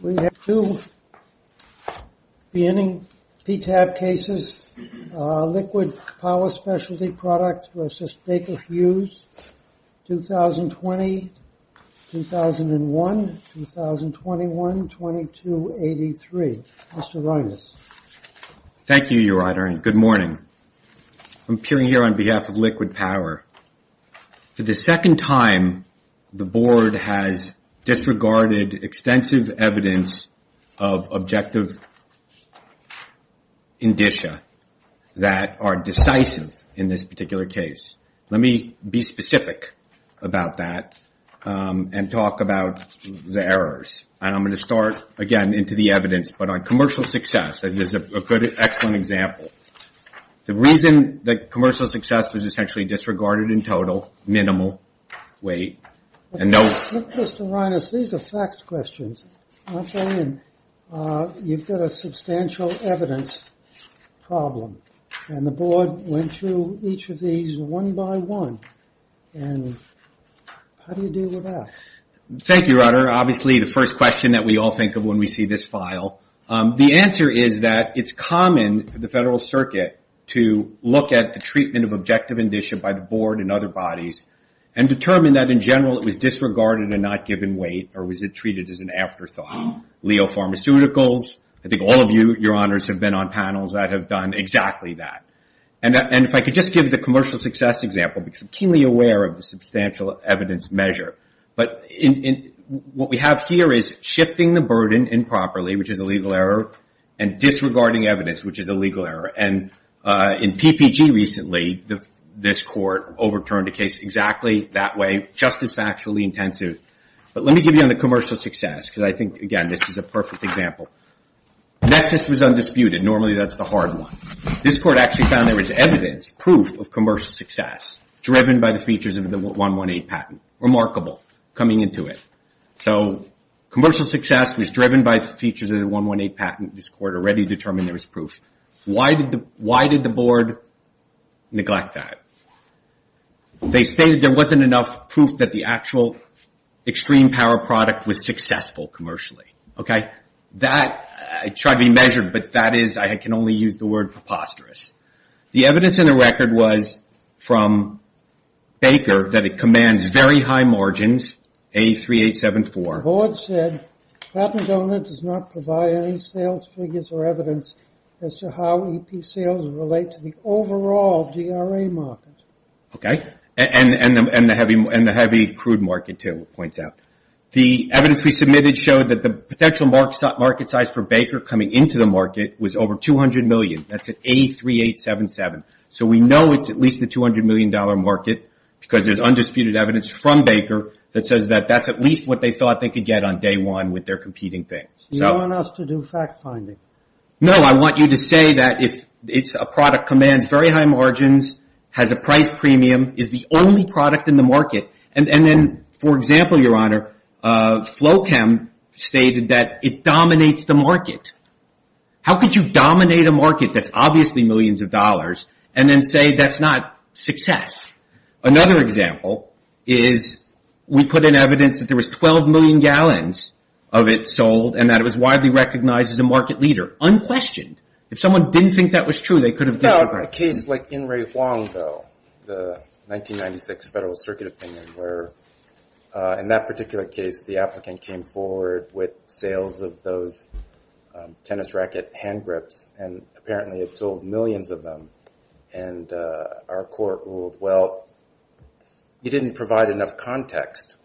We have two PTAB cases, Liquid Power Specialty Products v Baker Hughes, 2020, 2001, 2021, 2283. Mr. Reines. Thank you, Your Honor, and good morning. I'm appearing here on behalf of Liquid Power. For the second time, the Board has disregarded extensive evidence of objective indicia that are decisive in this particular case. Let me be specific about that and talk about the errors. I'm going to start again into the evidence, but on commercial success, that is an excellent example. The reason that commercial success was essentially disregarded in total, minimal weight, and no... Mr. Reines, these are fact questions. I'm saying you've got a substantial evidence problem, and the Board went through each of these one by one, and how do you deal with that? Thank you, Your Honor. Obviously, the first question that we all think of when we see this file. The answer is that it's common for the Federal Circuit to look at the treatment of objective indicia by the Board and other bodies and determine that, in general, it was disregarded and not given weight, or was it treated as an afterthought? Leo Pharmaceuticals, I think all of you, Your Honors, have been on panels that have done exactly that. If I could just give the commercial success example, because I'm keenly aware of the substantial evidence measure. What we have here is shifting the burden improperly, which is a legal error, and disregarding evidence, which is a legal error. In PPG recently, this Court overturned a case exactly that way, just as factually intensive. Let me give you on the commercial success, because I think, again, this is a perfect example. Nexus was undisputed. Normally, that's the hard one. This Court actually found there was evidence, proof of commercial success, driven by the features of the 118 patent. Remarkable, coming into it. Commercial success was driven by features of the 118 patent. This Court already determined there was proof. Why did the Board neglect that? They stated there wasn't enough proof that the actual extreme power product was successful commercially. That tried to be measured, but that is, I can only use the word, preposterous. The evidence in the record was from Baker, that it commands very high margins, A3874. The Board said, Patent Donor does not provide any sales figures or evidence as to how EP sales relate to the overall DRA market. And the heavy crude market, too, points out. The evidence we submitted showed that the potential market size for Baker coming into the market was over 200 million. That's at A3877. So we know it's at least the $200 million market, because there's undisputed evidence from Baker that says that that's at least what they thought they could get on day one with their competing things. You don't want us to do fact-finding? No, I want you to say that if it's a product that commands very high margins, has a price premium, is the only product in the market, and then, for example, Your Honor, Flochem stated that it dominates the market. How could you dominate a market that's obviously millions of dollars and then say that's not success? Another example is we put in evidence that there was 12 million gallons of it sold and that it was widely recognized as a market leader, unquestioned. If someone didn't think that was true, they could have disagreed. I want a case like In Rui Huang, though, the 1996 Federal Circuit opinion, where in that particular case, the applicant came forward with sales of those tennis racket hand grips, and apparently it sold millions of them. Our court ruled, well, you didn't provide enough context.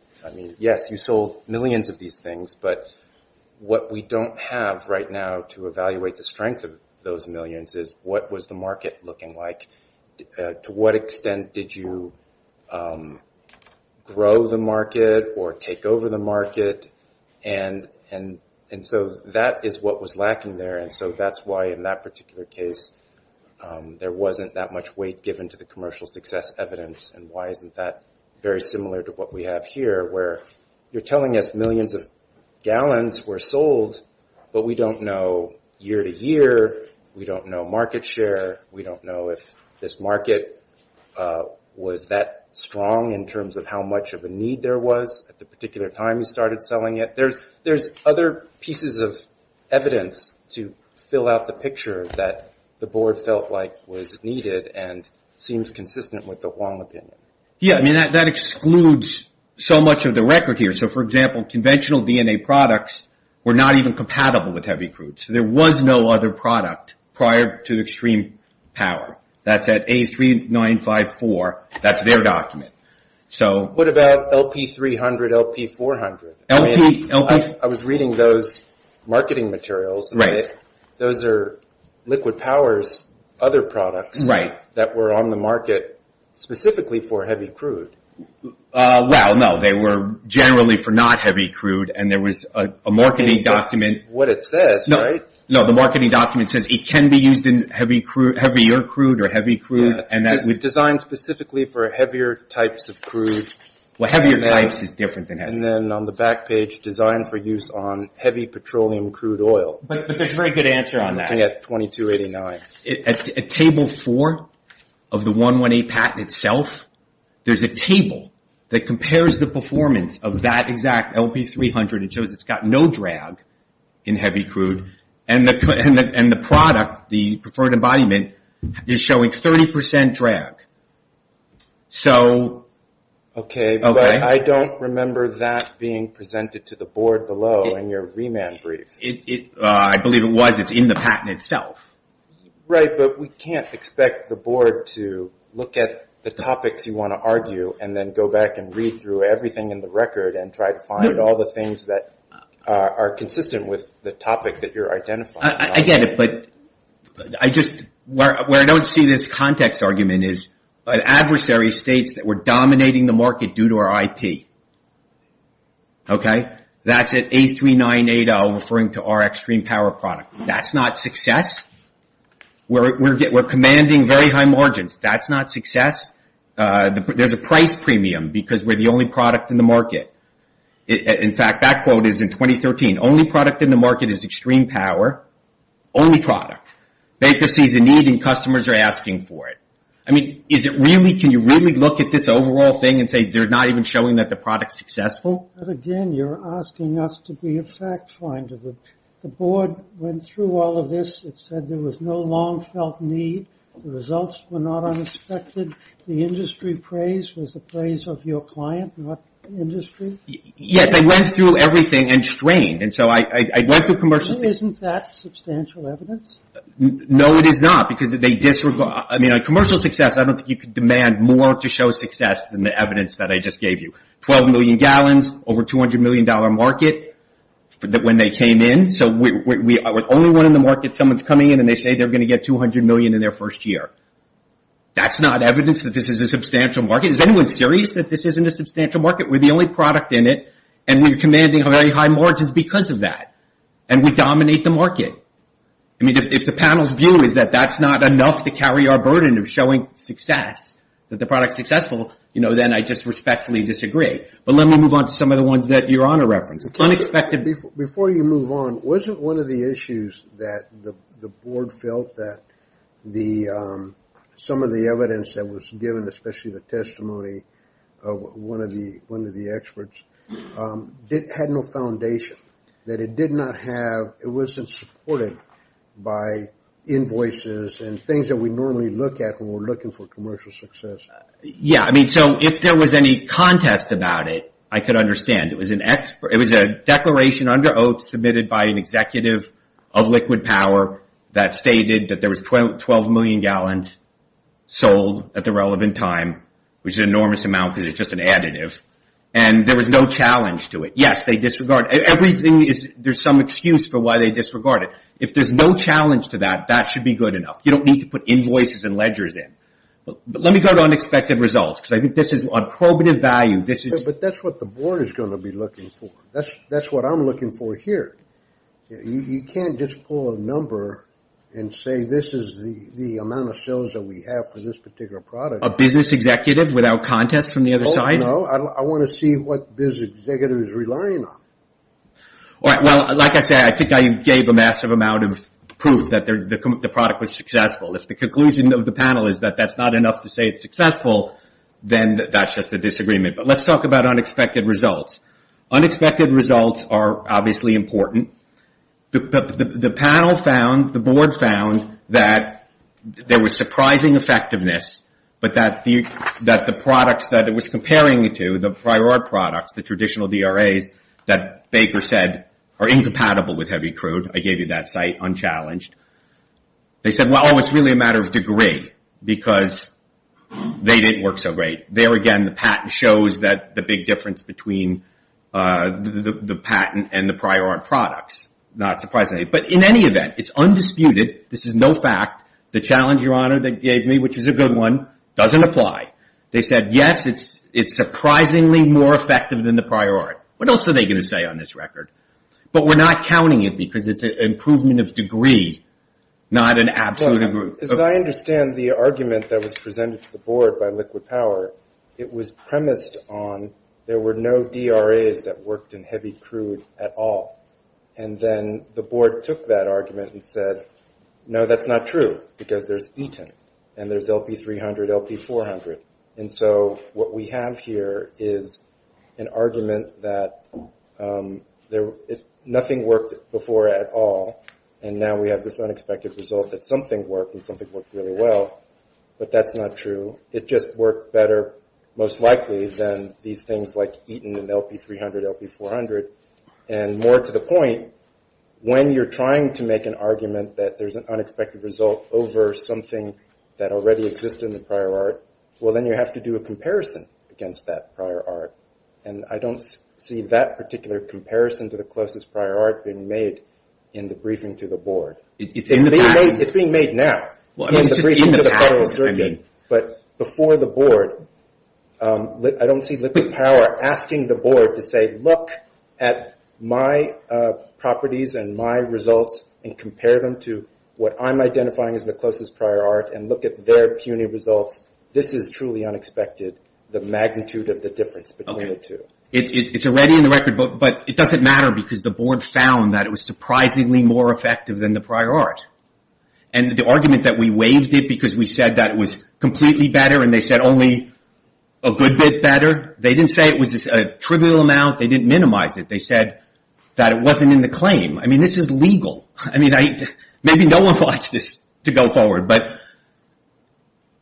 Yes, you sold millions of these things, but what we don't have right now to evaluate the strength of those millions is what was the market looking like? To what extent did you grow the market or take over the market? That is what was lacking there, and so that's why, in that particular case, there wasn't that much weight given to the commercial success evidence. Why isn't that very similar to what we have here, where you're telling us millions of gallons were sold, but we don't know year-to-year, we don't know market share, we don't know if this market was that strong in terms of how much of a need there was at the particular time you started selling it. There's other pieces of evidence to fill out the picture that the board felt like was needed and seems consistent with the Huang opinion. Yes, that excludes so much of the record here. For example, conventional DNA products were not even compatible with heavy crude, so there was no other product prior to extreme power. That's at A3954. That's their document. What about LP300, LP400? I was reading those marketing materials. Those are Liquid Power's other products that were on the market specifically for heavy crude. Well, no, they were generally for not heavy crude, and there was a marketing document. It's what it says, right? No, the marketing document says it can be used in heavier crude or heavy crude. Designed specifically for heavier types of crude. Well, heavier types is different than heavy. And then on the back page, designed for use on heavy petroleum crude oil. But there's a very good answer on that. At table four of the 118 patent itself, there's a table that compares the performance of that exact LP300. It shows it's got no drag in heavy crude, and the product, the preferred embodiment, is showing 30% drag. Okay, but I don't remember that being presented to the board below in your remand brief. I believe it was. It's in the patent itself. Right, but we can't expect the board to look at the topics you want to argue, and then go back and read through everything in the record, and try to find all the things that are consistent with the topic that you're identifying. I get it, but where I don't see this context argument is an adversary states that we're dominating the market due to our IP. Okay, that's at 83980 referring to our extreme power product. That's not success. We're commanding very high margins. That's not success. There's a price premium because we're the only product in the market. In fact, that quote is in 2013. Only product in the market is extreme power. Only product. Baker sees a need, and customers are asking for it. I mean, can you really look at this overall thing and say they're not even showing that the product's successful? Again, you're asking us to be a fact finder. The board went through all of this. It said there was no long felt need. The results were not unexpected. The industry praise was the praise of your client, not industry. Yes, they went through everything and strained, and so I went through commercial things. Isn't that substantial evidence? No, it is not because they disregard. I mean, on commercial success, I don't think you could demand more to show success than the evidence that I just gave you. Twelve million gallons, over $200 million market when they came in. So we're the only one in the market. Someone's coming in, and they say they're going to get $200 million in their first year. That's not evidence that this is a substantial market. Is anyone serious that this isn't a substantial market? We're the only product in it, and we're commanding very high margins because of that, and we dominate the market. If the panel's view is that that's not enough to carry our burden of showing success, that the product's successful, then I just respectfully disagree. But let me move on to some of the ones that you're on a reference. Before you move on, wasn't one of the issues that the board felt that some of the evidence that was given, especially the testimony of one of the experts, had no foundation? That it did not have – it wasn't supported by invoices and things that we normally look at when we're looking for commercial success? Yeah, I mean, so if there was any contest about it, I could understand. It was a declaration under OATS submitted by an executive of Liquid Power that stated that there was 12 million gallons sold at the relevant time, which is an enormous amount because it's just an additive, and there was no challenge to it. Yes, they disregard – everything is – there's some excuse for why they disregard it. If there's no challenge to that, that should be good enough. You don't need to put invoices and ledgers in. But let me go to unexpected results because I think this is on probative value. But that's what the board is going to be looking for. That's what I'm looking for here. You can't just pull a number and say this is the amount of sales that we have for this particular product. A business executive without contest from the other side? No, I want to see what this executive is relying on. All right, well, like I said, I think I gave a massive amount of proof that the product was successful. If the conclusion of the panel is that that's not enough to say it's successful, then that's just a disagreement. But let's talk about unexpected results. Unexpected results are obviously important. The panel found – the board found that there was surprising effectiveness, but that the products that it was comparing it to, the prior art products, the traditional DRAs, that Baker said are incompatible with heavy crude. I gave you that site unchallenged. They said, well, it's really a matter of degree because they didn't work so great. There again, the patent shows that the big difference between the patent and the prior art products. Not surprisingly. But in any event, it's undisputed. This is no fact. The challenge, Your Honor, they gave me, which is a good one, doesn't apply. They said, yes, it's surprisingly more effective than the prior art. What else are they going to say on this record? But we're not counting it because it's an improvement of degree, not an absolute – As I understand the argument that was presented to the board by Liquid Power, it was premised on there were no DRAs that worked in heavy crude at all. And then the board took that argument and said, no, that's not true because there's Eaton, and there's LP300, LP400. And so what we have here is an argument that nothing worked before at all, and now we have this unexpected result that something worked and something worked really well. But that's not true. It just worked better, most likely, than these things like Eaton and LP300, LP400. And more to the point, when you're trying to make an argument that there's an unexpected result over something that already existed in the prior art, well, then you have to do a comparison against that prior art. And I don't see that particular comparison to the closest prior art being made in the briefing to the board. It's being made now. In the briefing to the Federal Reserve team. But before the board, I don't see Liquid Power asking the board to say, look at my properties and my results and compare them to what I'm identifying as the closest prior art and look at their puny results. This is truly unexpected, the magnitude of the difference between the two. Okay. It's already in the record, but it doesn't matter because the board found that it was surprisingly more effective than the prior art. And the argument that we waived it because we said that it was completely better and they said only a good bit better, they didn't say it was a trivial amount. They didn't minimize it. They said that it wasn't in the claim. I mean, this is legal. I mean, maybe no one wants this to go forward, but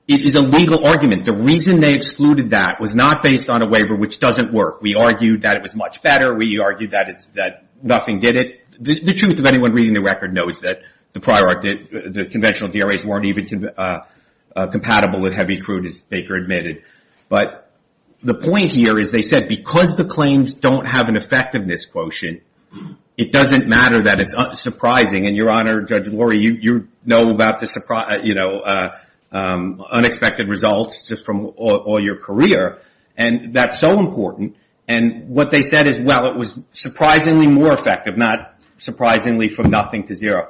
it is a legal argument. The reason they excluded that was not based on a waiver, which doesn't work. We argued that it was much better. We argued that nothing did it. The truth of anyone reading the record knows that the conventional DRAs weren't even compatible with heavy crude, as Baker admitted. But the point here is they said because the claims don't have an effectiveness quotient, it doesn't matter that it's surprising. And, Your Honor, Judge Lori, you know about the unexpected results just from all your career. And that's so important. And what they said is, well, it was surprisingly more effective, not surprisingly from nothing to zero.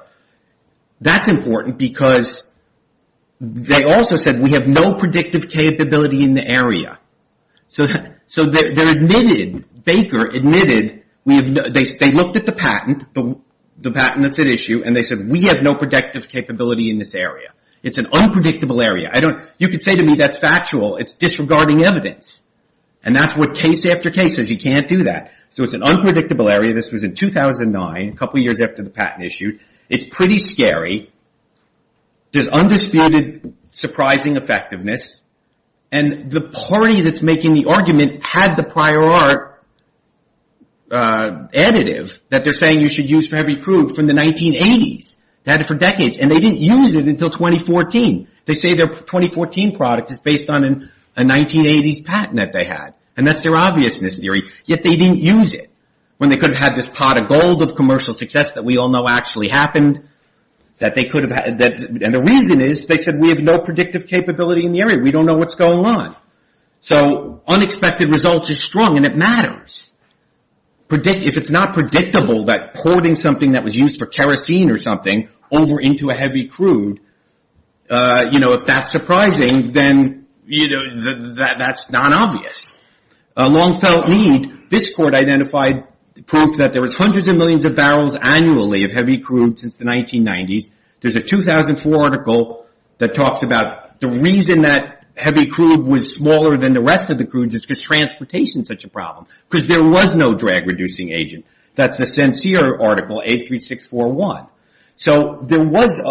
That's important because they also said we have no predictive capability in the area. So they admitted, Baker admitted, they looked at the patent, the patent that's at issue, and they said we have no predictive capability in this area. It's an unpredictable area. You can say to me that's factual. It's disregarding evidence. And that's what case after case is. You can't do that. So it's an unpredictable area. This was in 2009, a couple years after the patent issued. It's pretty scary. There's undisputed surprising effectiveness. And the party that's making the argument had the prior art additive that they're saying you should use for heavy crude from the 1980s. They had it for decades. And they didn't use it until 2014. They say their 2014 product is based on a 1980s patent that they had. And that's their obviousness theory. Yet they didn't use it when they could have had this pot of gold of commercial success that we all know actually happened. And the reason is they said we have no predictive capability in the area. We don't know what's going on. So unexpected results is strong, and it matters. If it's not predictable that holding something that was used for kerosene or something over into a heavy crude, you know, if that's surprising, then, you know, that's not obvious. A long felt need. This court identified proof that there was hundreds of millions of barrels annually of heavy crude since the 1990s. There's a 2004 article that talks about the reason that heavy crude was smaller than the rest of the crudes is because transportation is such a problem because there was no drag reducing agent. That's the sincere article, 83641. So there was a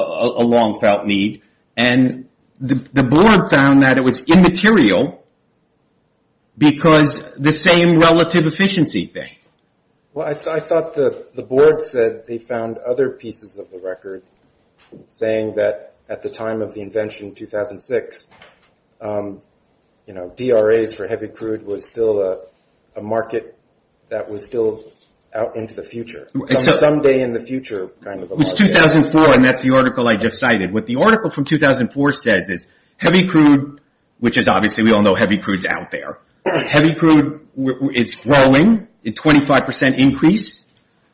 long felt need. And the board found that it was immaterial because the same relative efficiency thing. Well, I thought the board said they found other pieces of the record saying that at the time of the invention in 2006, you know, DRAs for heavy crude was still a market that was still out into the future. Someday in the future kind of a market. It was 2004, and that's the article I just cited. What the article from 2004 says is heavy crude, which is obviously we all know heavy crude's out there. Heavy crude is growing at 25% increase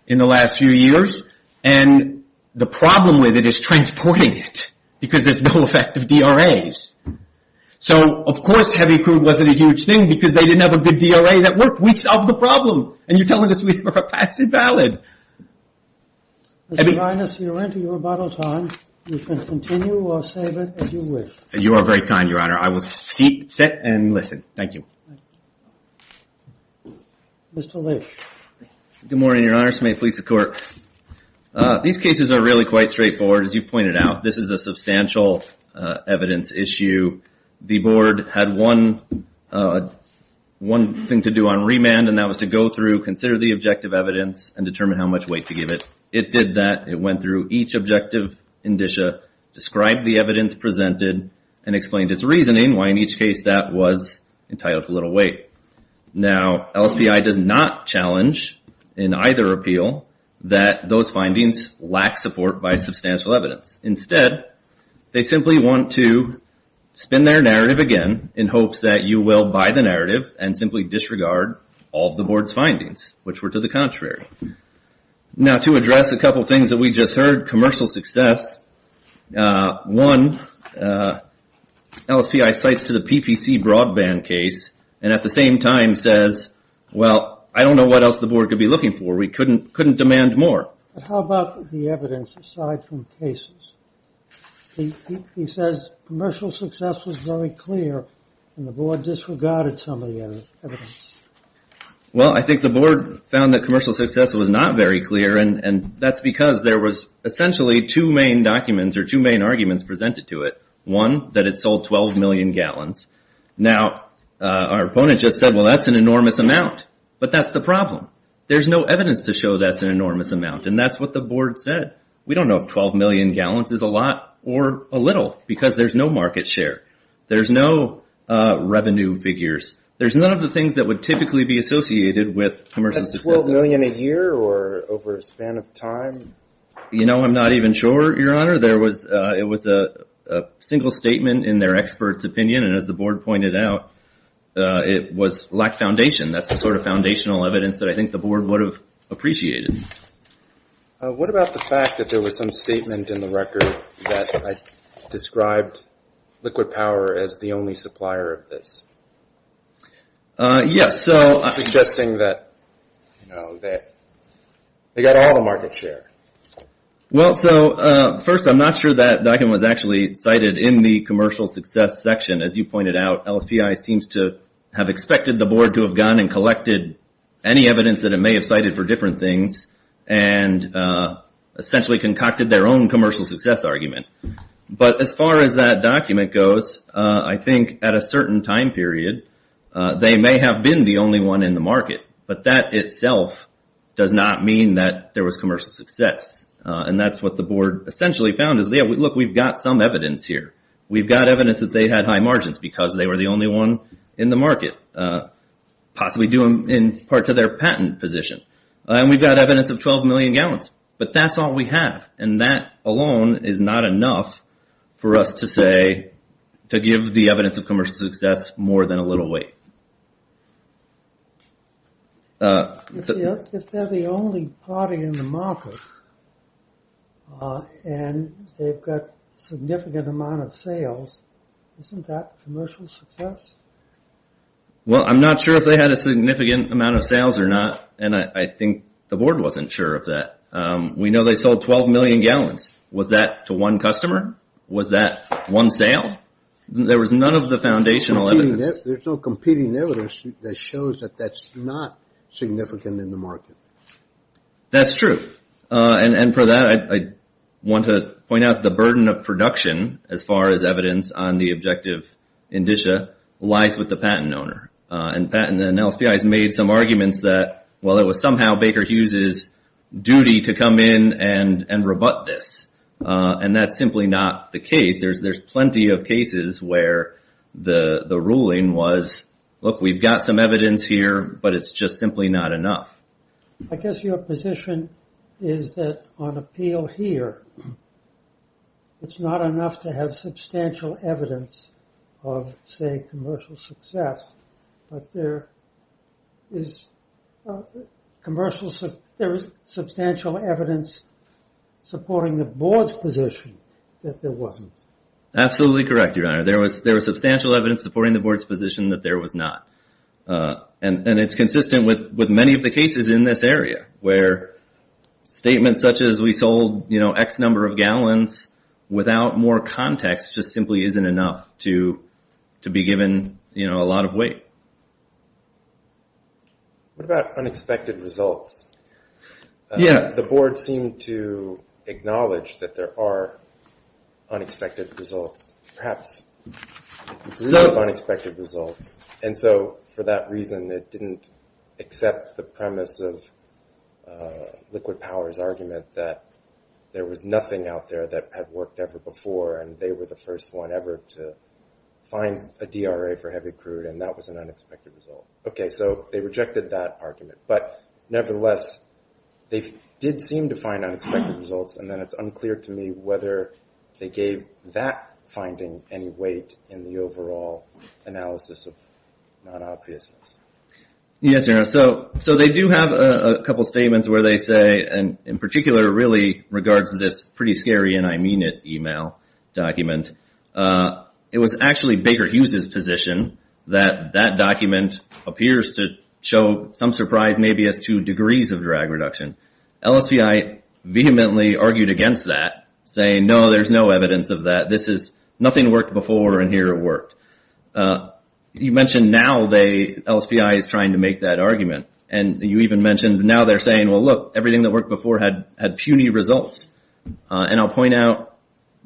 in the last few years. And the problem with it is transporting it because there's no effective DRAs. So, of course, heavy crude wasn't a huge thing because they didn't have a good DRA that worked. We solved the problem. And you're telling us we were a passive valid. Mr. Linus, you're into your rebuttal time. You can continue or save it as you wish. You are very kind, Your Honor. I will sit and listen. Thank you. Mr. Leitch. Good morning, Your Honor. This may please the Court. These cases are really quite straightforward, as you pointed out. This is a substantial evidence issue. The board had one thing to do on remand, and that was to go through, consider the objective evidence, and determine how much weight to give it. It did that. It went through each objective indicia, described the evidence presented, and explained its reasoning why in each case that was entitled to little weight. Now, LSPI does not challenge in either appeal that those findings lack support by substantial evidence. Instead, they simply want to spin their narrative again in hopes that you will buy the narrative and simply disregard all of the board's findings, which were to the contrary. Now, to address a couple things that we just heard, commercial success, one, LSPI cites to the PPC broadband case and at the same time says, well, I don't know what else the board could be looking for. We couldn't demand more. How about the evidence aside from cases? He says commercial success was very clear, and the board disregarded some of the evidence. Well, I think the board found that commercial success was not very clear, and that's because there was essentially two main documents or two main arguments presented to it. One, that it sold 12 million gallons. Now, our opponent just said, well, that's an enormous amount. But that's the problem. There's no evidence to show that's an enormous amount, and that's what the board said. We don't know if 12 million gallons is a lot or a little because there's no market share. There's no revenue figures. There's none of the things that would typically be associated with commercial success. That's 12 million a year or over a span of time? You know, I'm not even sure, Your Honor. It was a single statement in their expert's opinion, and as the board pointed out, it was lack of foundation. That's the sort of foundational evidence that I think the board would have appreciated. What about the fact that there was some statement in the record that I described liquid power as the only supplier of this? Yes. Suggesting that, you know, they got all the market share. Well, so first, I'm not sure that document was actually cited in the commercial success section. As you pointed out, LSPI seems to have expected the board to have gone and collected any evidence that it may have cited for different things and essentially concocted their own commercial success argument. But as far as that document goes, I think at a certain time period, they may have been the only one in the market, but that itself does not mean that there was commercial success, and that's what the board essentially found is, look, we've got some evidence here. We've got evidence that they had high margins because they were the only one in the market. Possibly due in part to their patent position. And we've got evidence of 12 million gallons, but that's all we have, and that alone is not enough for us to say, to give the evidence of commercial success more than a little weight. If they're the only party in the market, and they've got significant amount of sales, isn't that commercial success? Well, I'm not sure if they had a significant amount of sales or not, and I think the board wasn't sure of that. We know they sold 12 million gallons. Was that to one customer? Was that one sale? There was none of the foundational evidence. There's no competing evidence that shows that that's not significant in the market. That's true. And for that, I want to point out the burden of production, as far as evidence on the objective indicia, lies with the patent owner. And patent and LSPIs made some arguments that, well, it was somehow Baker Hughes's duty to come in and rebut this. And that's simply not the case. There's plenty of cases where the ruling was, look, we've got some evidence here, but it's just simply not enough. I guess your position is that on appeal here, it's not enough to have substantial evidence of, say, commercial success, but there is substantial evidence supporting the board's position that there wasn't. Absolutely correct, Your Honor. There was substantial evidence supporting the board's position that there was not. And it's consistent with many of the cases in this area, where statements such as we sold X number of gallons without more context just simply isn't enough to be given a lot of weight. What about unexpected results? The board seemed to acknowledge that there are unexpected results, perhaps a lot of unexpected results. And so for that reason, it didn't accept the premise of Liquid Power's argument that there was nothing out there that had worked ever before, and they were the first one ever to find a DRA for heavy crude, and that was an unexpected result. Okay, so they rejected that argument. But nevertheless, they did seem to find unexpected results, and then it's unclear to me whether they gave that finding any weight in the overall analysis of non-obviousness. Yes, Your Honor. So they do have a couple of statements where they say, and in particular really regards this pretty scary, and I mean it, email document. It was actually Baker Hughes's position that that document appears to show some surprise, maybe as to degrees of drag reduction. LSPI vehemently argued against that, saying, no, there's no evidence of that. This is nothing worked before, and here it worked. You mentioned now LSPI is trying to make that argument, and you even mentioned now they're saying, well, look, everything that worked before had puny results. And I'll point out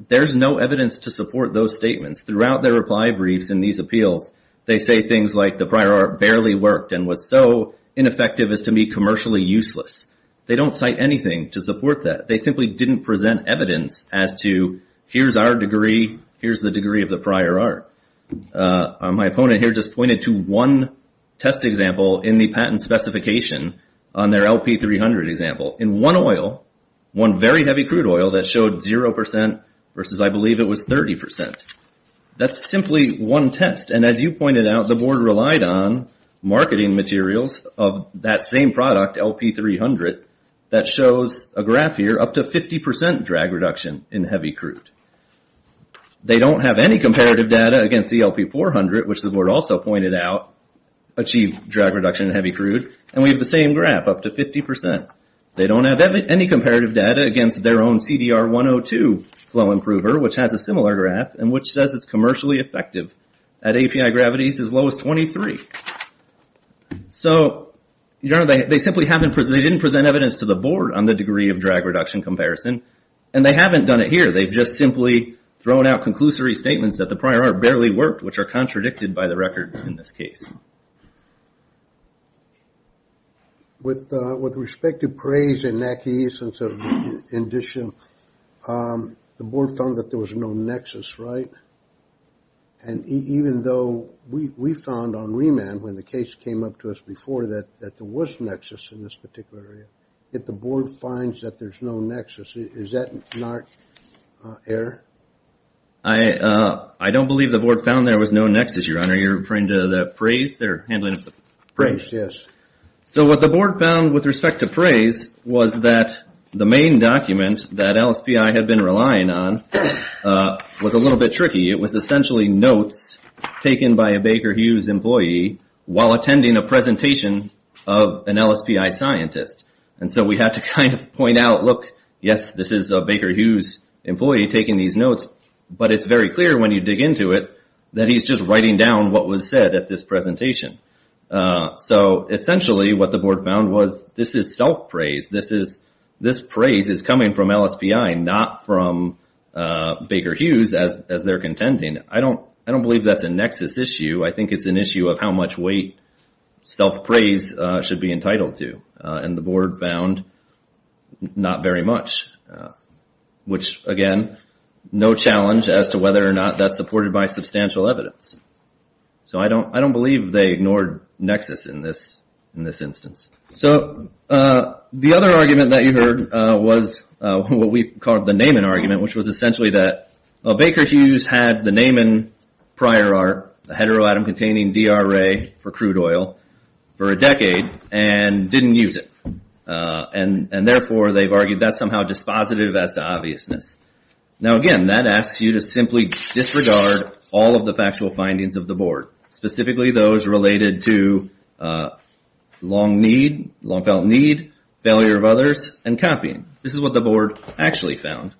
there's no evidence to support those statements. Throughout their reply briefs in these appeals, they say things like the prior art barely worked and was so ineffective as to be commercially useless. They don't cite anything to support that. They simply didn't present evidence as to here's our degree, here's the degree of the prior art. My opponent here just pointed to one test example in the patent specification on their LP300 example. In one oil, one very heavy crude oil, that showed 0% versus I believe it was 30%. That's simply one test, and as you pointed out, the board relied on marketing materials of that same product, LP300, that shows a graph here up to 50% drag reduction in heavy crude. They don't have any comparative data against the LP400, which the board also pointed out achieved drag reduction in heavy crude, and we have the same graph up to 50%. They don't have any comparative data against their own CDR102 flow improver, which has a similar graph and which says it's commercially effective at API gravities as low as 23. So they simply didn't present evidence to the board on the degree of drag reduction comparison, and they haven't done it here. They've just simply thrown out conclusory statements that the prior art barely worked, which are contradicted by the record in this case. With respect to praise and acknowledgement of the condition, the board found that there was no nexus, right? And even though we found on remand when the case came up to us before that there was nexus in this particular area, yet the board finds that there's no nexus. Is that not error? I don't believe the board found there was no nexus, Your Honor. You're referring to the praise? Praise, yes. So what the board found with respect to praise was that the main document that LSPI had been relying on was a little bit tricky. It was essentially notes taken by a Baker Hughes employee while attending a presentation of an LSPI scientist. And so we had to kind of point out, look, yes, this is a Baker Hughes employee taking these notes, but it's very clear when you dig into it that he's just writing down what was said at this presentation. So essentially what the board found was this is self-praise. This praise is coming from LSPI, not from Baker Hughes as they're contending. I don't believe that's a nexus issue. I think it's an issue of how much weight self-praise should be entitled to. And the board found not very much, which, again, no challenge as to whether or not that's supported by substantial evidence. So I don't believe they ignored nexus in this instance. So the other argument that you heard was what we called the Naaman argument, which was essentially that Baker Hughes had the Naaman prior art, the heteroatom-containing DRA for crude oil, for a decade and didn't use it. And therefore they've argued that's somehow dispositive as to obviousness. Now, again, that asks you to simply disregard all of the factual findings of the board, specifically those related to long-felt need, failure of others, and copying. This is what the board actually found,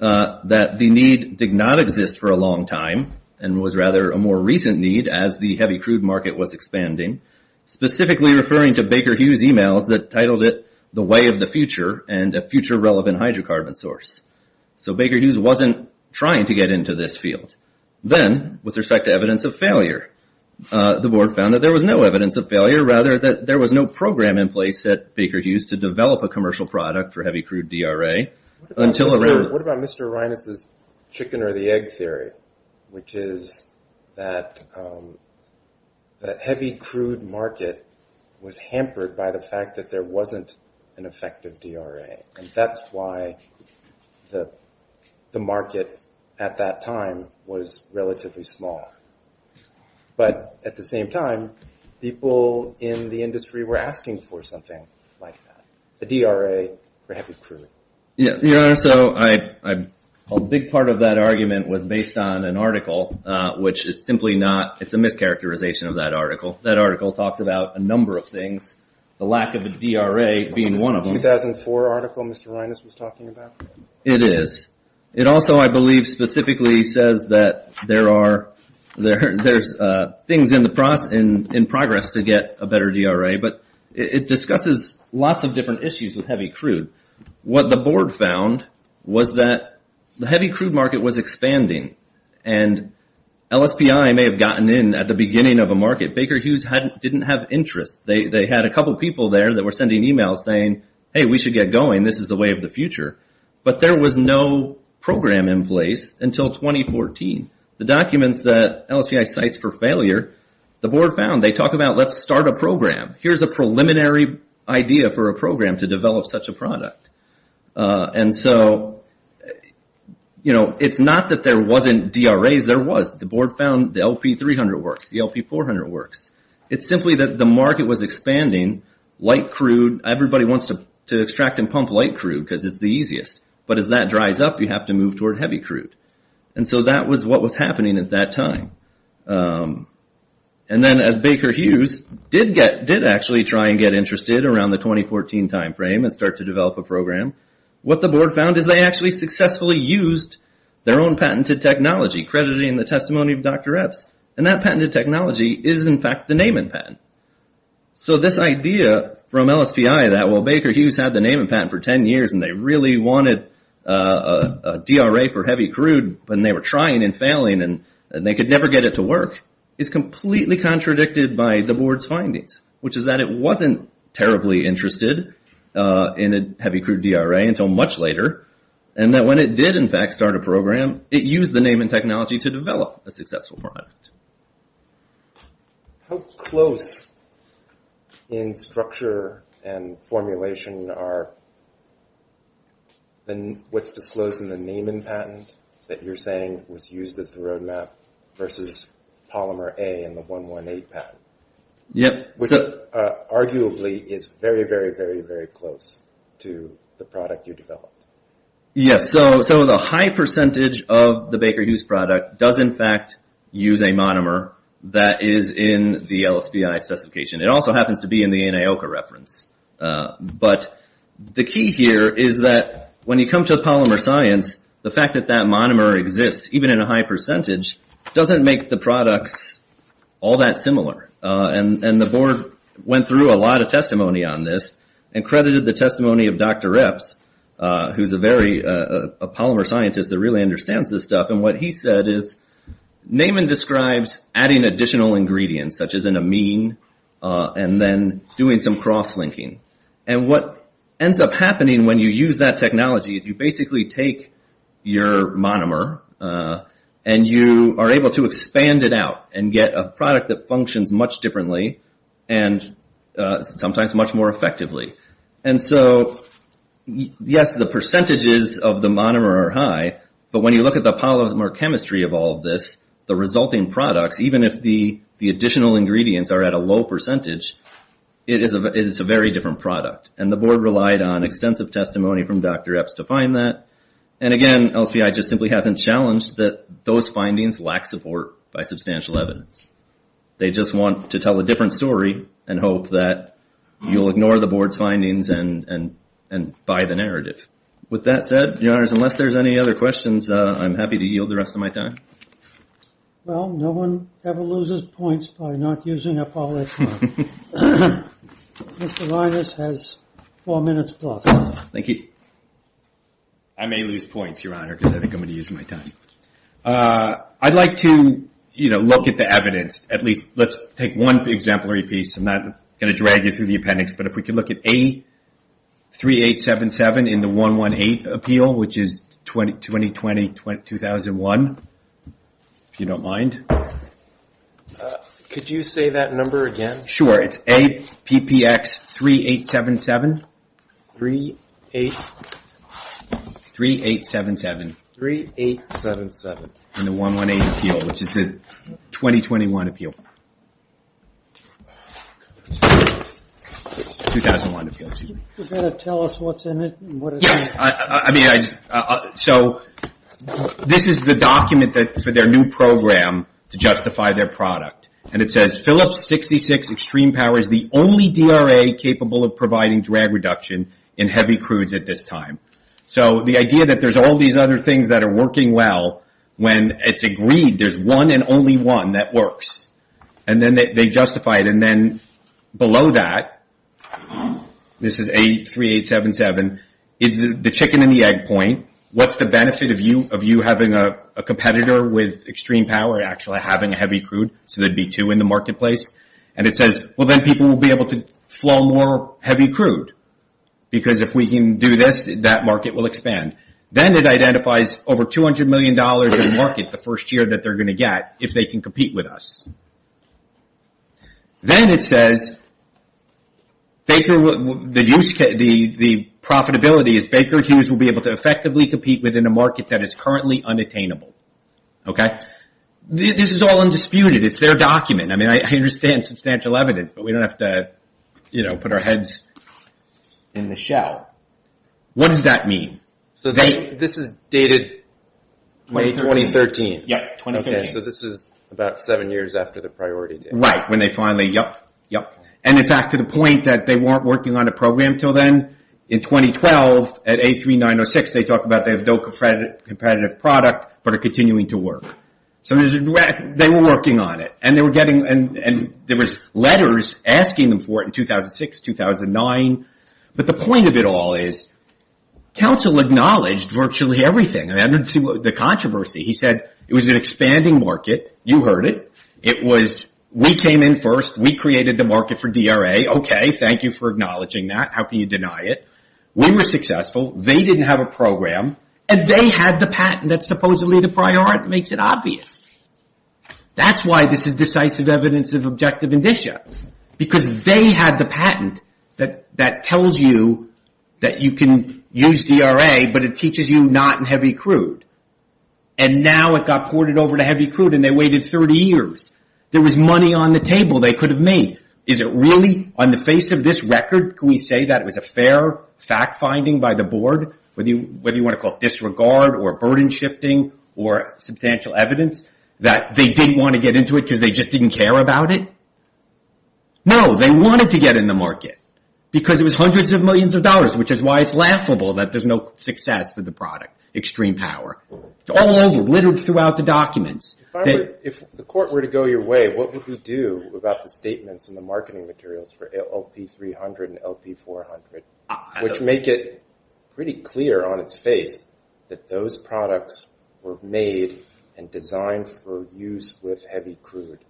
that the need did not exist for a long time and was rather a more recent need as the heavy crude market was expanding, specifically referring to Baker Hughes' emails that titled it The Way of the Future and a Future-Relevant Hydrocarbon Source. So Baker Hughes wasn't trying to get into this field. Then, with respect to evidence of failure, the board found that there was no evidence of failure, rather that there was no program in place at Baker Hughes to develop a commercial product for heavy crude DRA. What about Mr. Arinas' chicken or the egg theory, which is that the heavy crude market was hampered by the fact that there wasn't an effective DRA. And that's why the market at that time was relatively small. But at the same time, people in the industry were asking for something like that, a DRA for heavy crude. Your Honor, so a big part of that argument was based on an article, which is simply not – it's a mischaracterization of that article. That article talks about a number of things, the lack of a DRA being one of them. The 2004 article Mr. Arinas was talking about? It is. It also, I believe, specifically says that there's things in progress to get a better DRA, but it discusses lots of different issues with heavy crude. What the board found was that the heavy crude market was expanding, and LSPI may have gotten in at the beginning of a market. Baker Hughes didn't have interest. They had a couple people there that were sending emails saying, hey, we should get going. This is the way of the future. But there was no program in place until 2014. The documents that LSPI cites for failure, the board found, they talk about let's start a program. Here's a preliminary idea for a program to develop such a product. And so, you know, it's not that there wasn't DRAs. There was. The board found the LP300 works, the LP400 works. It's simply that the market was expanding. Light crude, everybody wants to extract and pump light crude because it's the easiest. But as that dries up, you have to move toward heavy crude. And so that was what was happening at that time. And then as Baker Hughes did actually try and get interested around the 2014 timeframe and start to develop a program, what the board found is they actually successfully used their own patented technology, crediting the testimony of Dr. Epps. And that patented technology is, in fact, the Neyman patent. So this idea from LSPI that, well, Baker Hughes had the Neyman patent for 10 years and they really wanted a DRA for heavy crude, and they were trying and failing and they could never get it to work, is completely contradicted by the board's findings, which is that it wasn't terribly interested in a heavy crude DRA until much later, and that when it did, in fact, start a program, it used the Neyman technology to develop a successful product. How close in structure and formulation are what's disclosed in the Neyman patent that you're saying was used as the roadmap versus Polymer A and the 118 patent? Yep. Which arguably is very, very, very, very close to the product you developed. Yes. So the high percentage of the Baker Hughes product does, in fact, use a monomer that is in the LSPI specification. It also happens to be in the Anioka reference. But the key here is that when you come to polymer science, the fact that that monomer exists, even in a high percentage, doesn't make the products all that similar. And the board went through a lot of testimony on this and credited the testimony of Dr. Epps, who's a polymer scientist that really understands this stuff. And what he said is Neyman describes adding additional ingredients, such as an amine, and then doing some cross-linking. And what ends up happening when you use that technology is you basically take your monomer and you are able to expand it out and get a product that functions much differently and sometimes much more effectively. And so, yes, the percentages of the monomer are high, but when you look at the polymer chemistry of all of this, the resulting products, even if the additional ingredients are at a low percentage, it is a very different product. And the board relied on extensive testimony from Dr. Epps to find that. And, again, LSPI just simply hasn't challenged that those findings lack support by substantial evidence. They just want to tell a different story and hope that you'll ignore the board's findings and buy the narrative. With that said, Your Honors, unless there's any other questions, I'm happy to yield the rest of my time. Well, no one ever loses points by not using up all their time. Mr. Linus has four minutes plus. Thank you. I may lose points, Your Honor, because I think I'm going to use my time. I'd like to, you know, look at the evidence. At least let's take one exemplary piece. I'm not going to drag you through the appendix, but if we could look at A3877 in the 118 appeal, which is 2020-2001, if you don't mind. Could you say that number again? Sure, it's APPX3877. 3-8-7-7. 3-8-7-7. In the 118 appeal, which is the 2021 appeal. 2001 appeal, excuse me. You've got to tell us what's in it and what it says. Yes, I mean, so this is the document for their new program to justify their product. And it says, Phillips 66 Extreme Power is the only DRA capable of providing drag reduction in heavy crudes at this time. So the idea that there's all these other things that are working well, when it's agreed there's one and only one that works. And then they justify it. And then below that, this is A3877, is the chicken and the egg point. What's the benefit of you having a competitor with extreme power actually having a heavy crude? So there'd be two in the marketplace. And it says, well, then people will be able to flow more heavy crude. Because if we can do this, that market will expand. Then it identifies over $200 million in the market the first year that they're going to get, if they can compete with us. Then it says, the profitability is Baker Hughes will be able to effectively compete within a market that is currently unattainable. This is all undisputed. It's their document. I mean, I understand substantial evidence. But we don't have to put our heads in the shell. What does that mean? So this is dated May 2013. Yes, 2013. Okay, so this is about seven years after the priority date. Right, when they finally, yep, yep. And in fact, to the point that they weren't working on a program until then, in 2012, at A3906, they talk about they have no competitive product, but are continuing to work. So they were working on it. And there was letters asking them for it in 2006, 2009. But the point of it all is, counsel acknowledged virtually everything. I mean, I didn't see the controversy. He said it was an expanding market. You heard it. It was, we came in first. We created the market for DRA. Okay, thank you for acknowledging that. How can you deny it? We were successful. They didn't have a program. And they had the patent that supposedly the priority makes it obvious. That's why this is decisive evidence of objective indicia. Because they had the patent that tells you that you can use DRA, but it teaches you not in heavy crude. And now it got ported over to heavy crude, and they waited 30 years. There was money on the table they could have made. Is it really, on the face of this record, can we say that it was a fair fact-finding by the board, whether you want to call it disregard or burden-shifting or substantial evidence, that they didn't want to get into it because they just didn't care about it? No, they wanted to get in the market because it was hundreds of millions of dollars, which is why it's laughable that there's no success for the product, extreme power. It's all over, littered throughout the documents. If the court were to go your way, what would we do about the statements in the marketing materials for LP300 and LP400, which make it pretty clear on its face that those products were made and designed for use with heavy crude?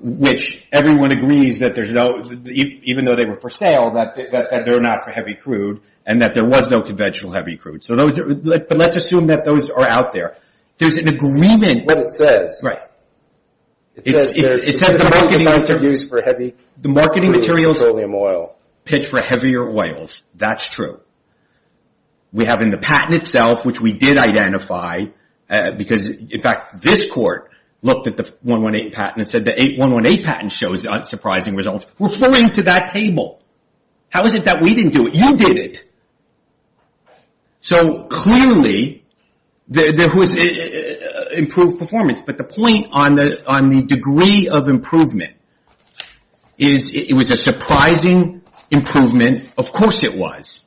Which, everyone agrees, even though they were for sale, that they're not for heavy crude, and that there was no conventional heavy crude. But let's assume that those are out there. There's an agreement. What it says. Right. It says the marketing materials pitch for heavier oils. That's true. We have in the patent itself, which we did identify, because, in fact, this court looked at the 118 patent and said the 118 patent shows unsurprising results. We're flowing to that table. How is it that we didn't do it? You did it. So, clearly, there was improved performance. But the point on the degree of improvement is it was a surprising improvement. Of course it was.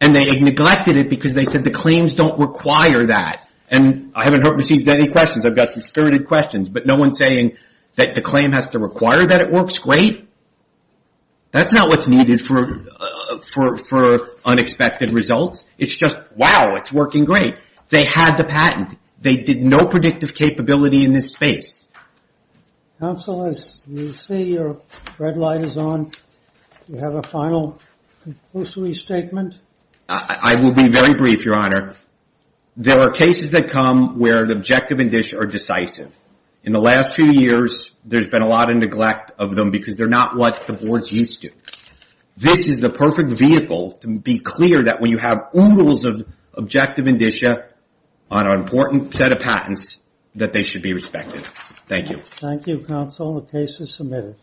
And they neglected it because they said the claims don't require that. And I haven't received any questions. I've got some spirited questions. But no one's saying that the claim has to require that it works. Great. That's not what's needed for unexpected results. It's just, wow, it's working great. They had the patent. They did no predictive capability in this space. Counsel, as you see, your red light is on. Do you have a final conclusory statement? I will be very brief, Your Honor. There are cases that come where the objective indicia are decisive. In the last few years, there's been a lot of neglect of them because they're not what the boards used to. This is the perfect vehicle to be clear that when you have oodles of objective indicia on an important set of patents, that they should be respected. Thank you. Thank you, Counsel. The case is submitted.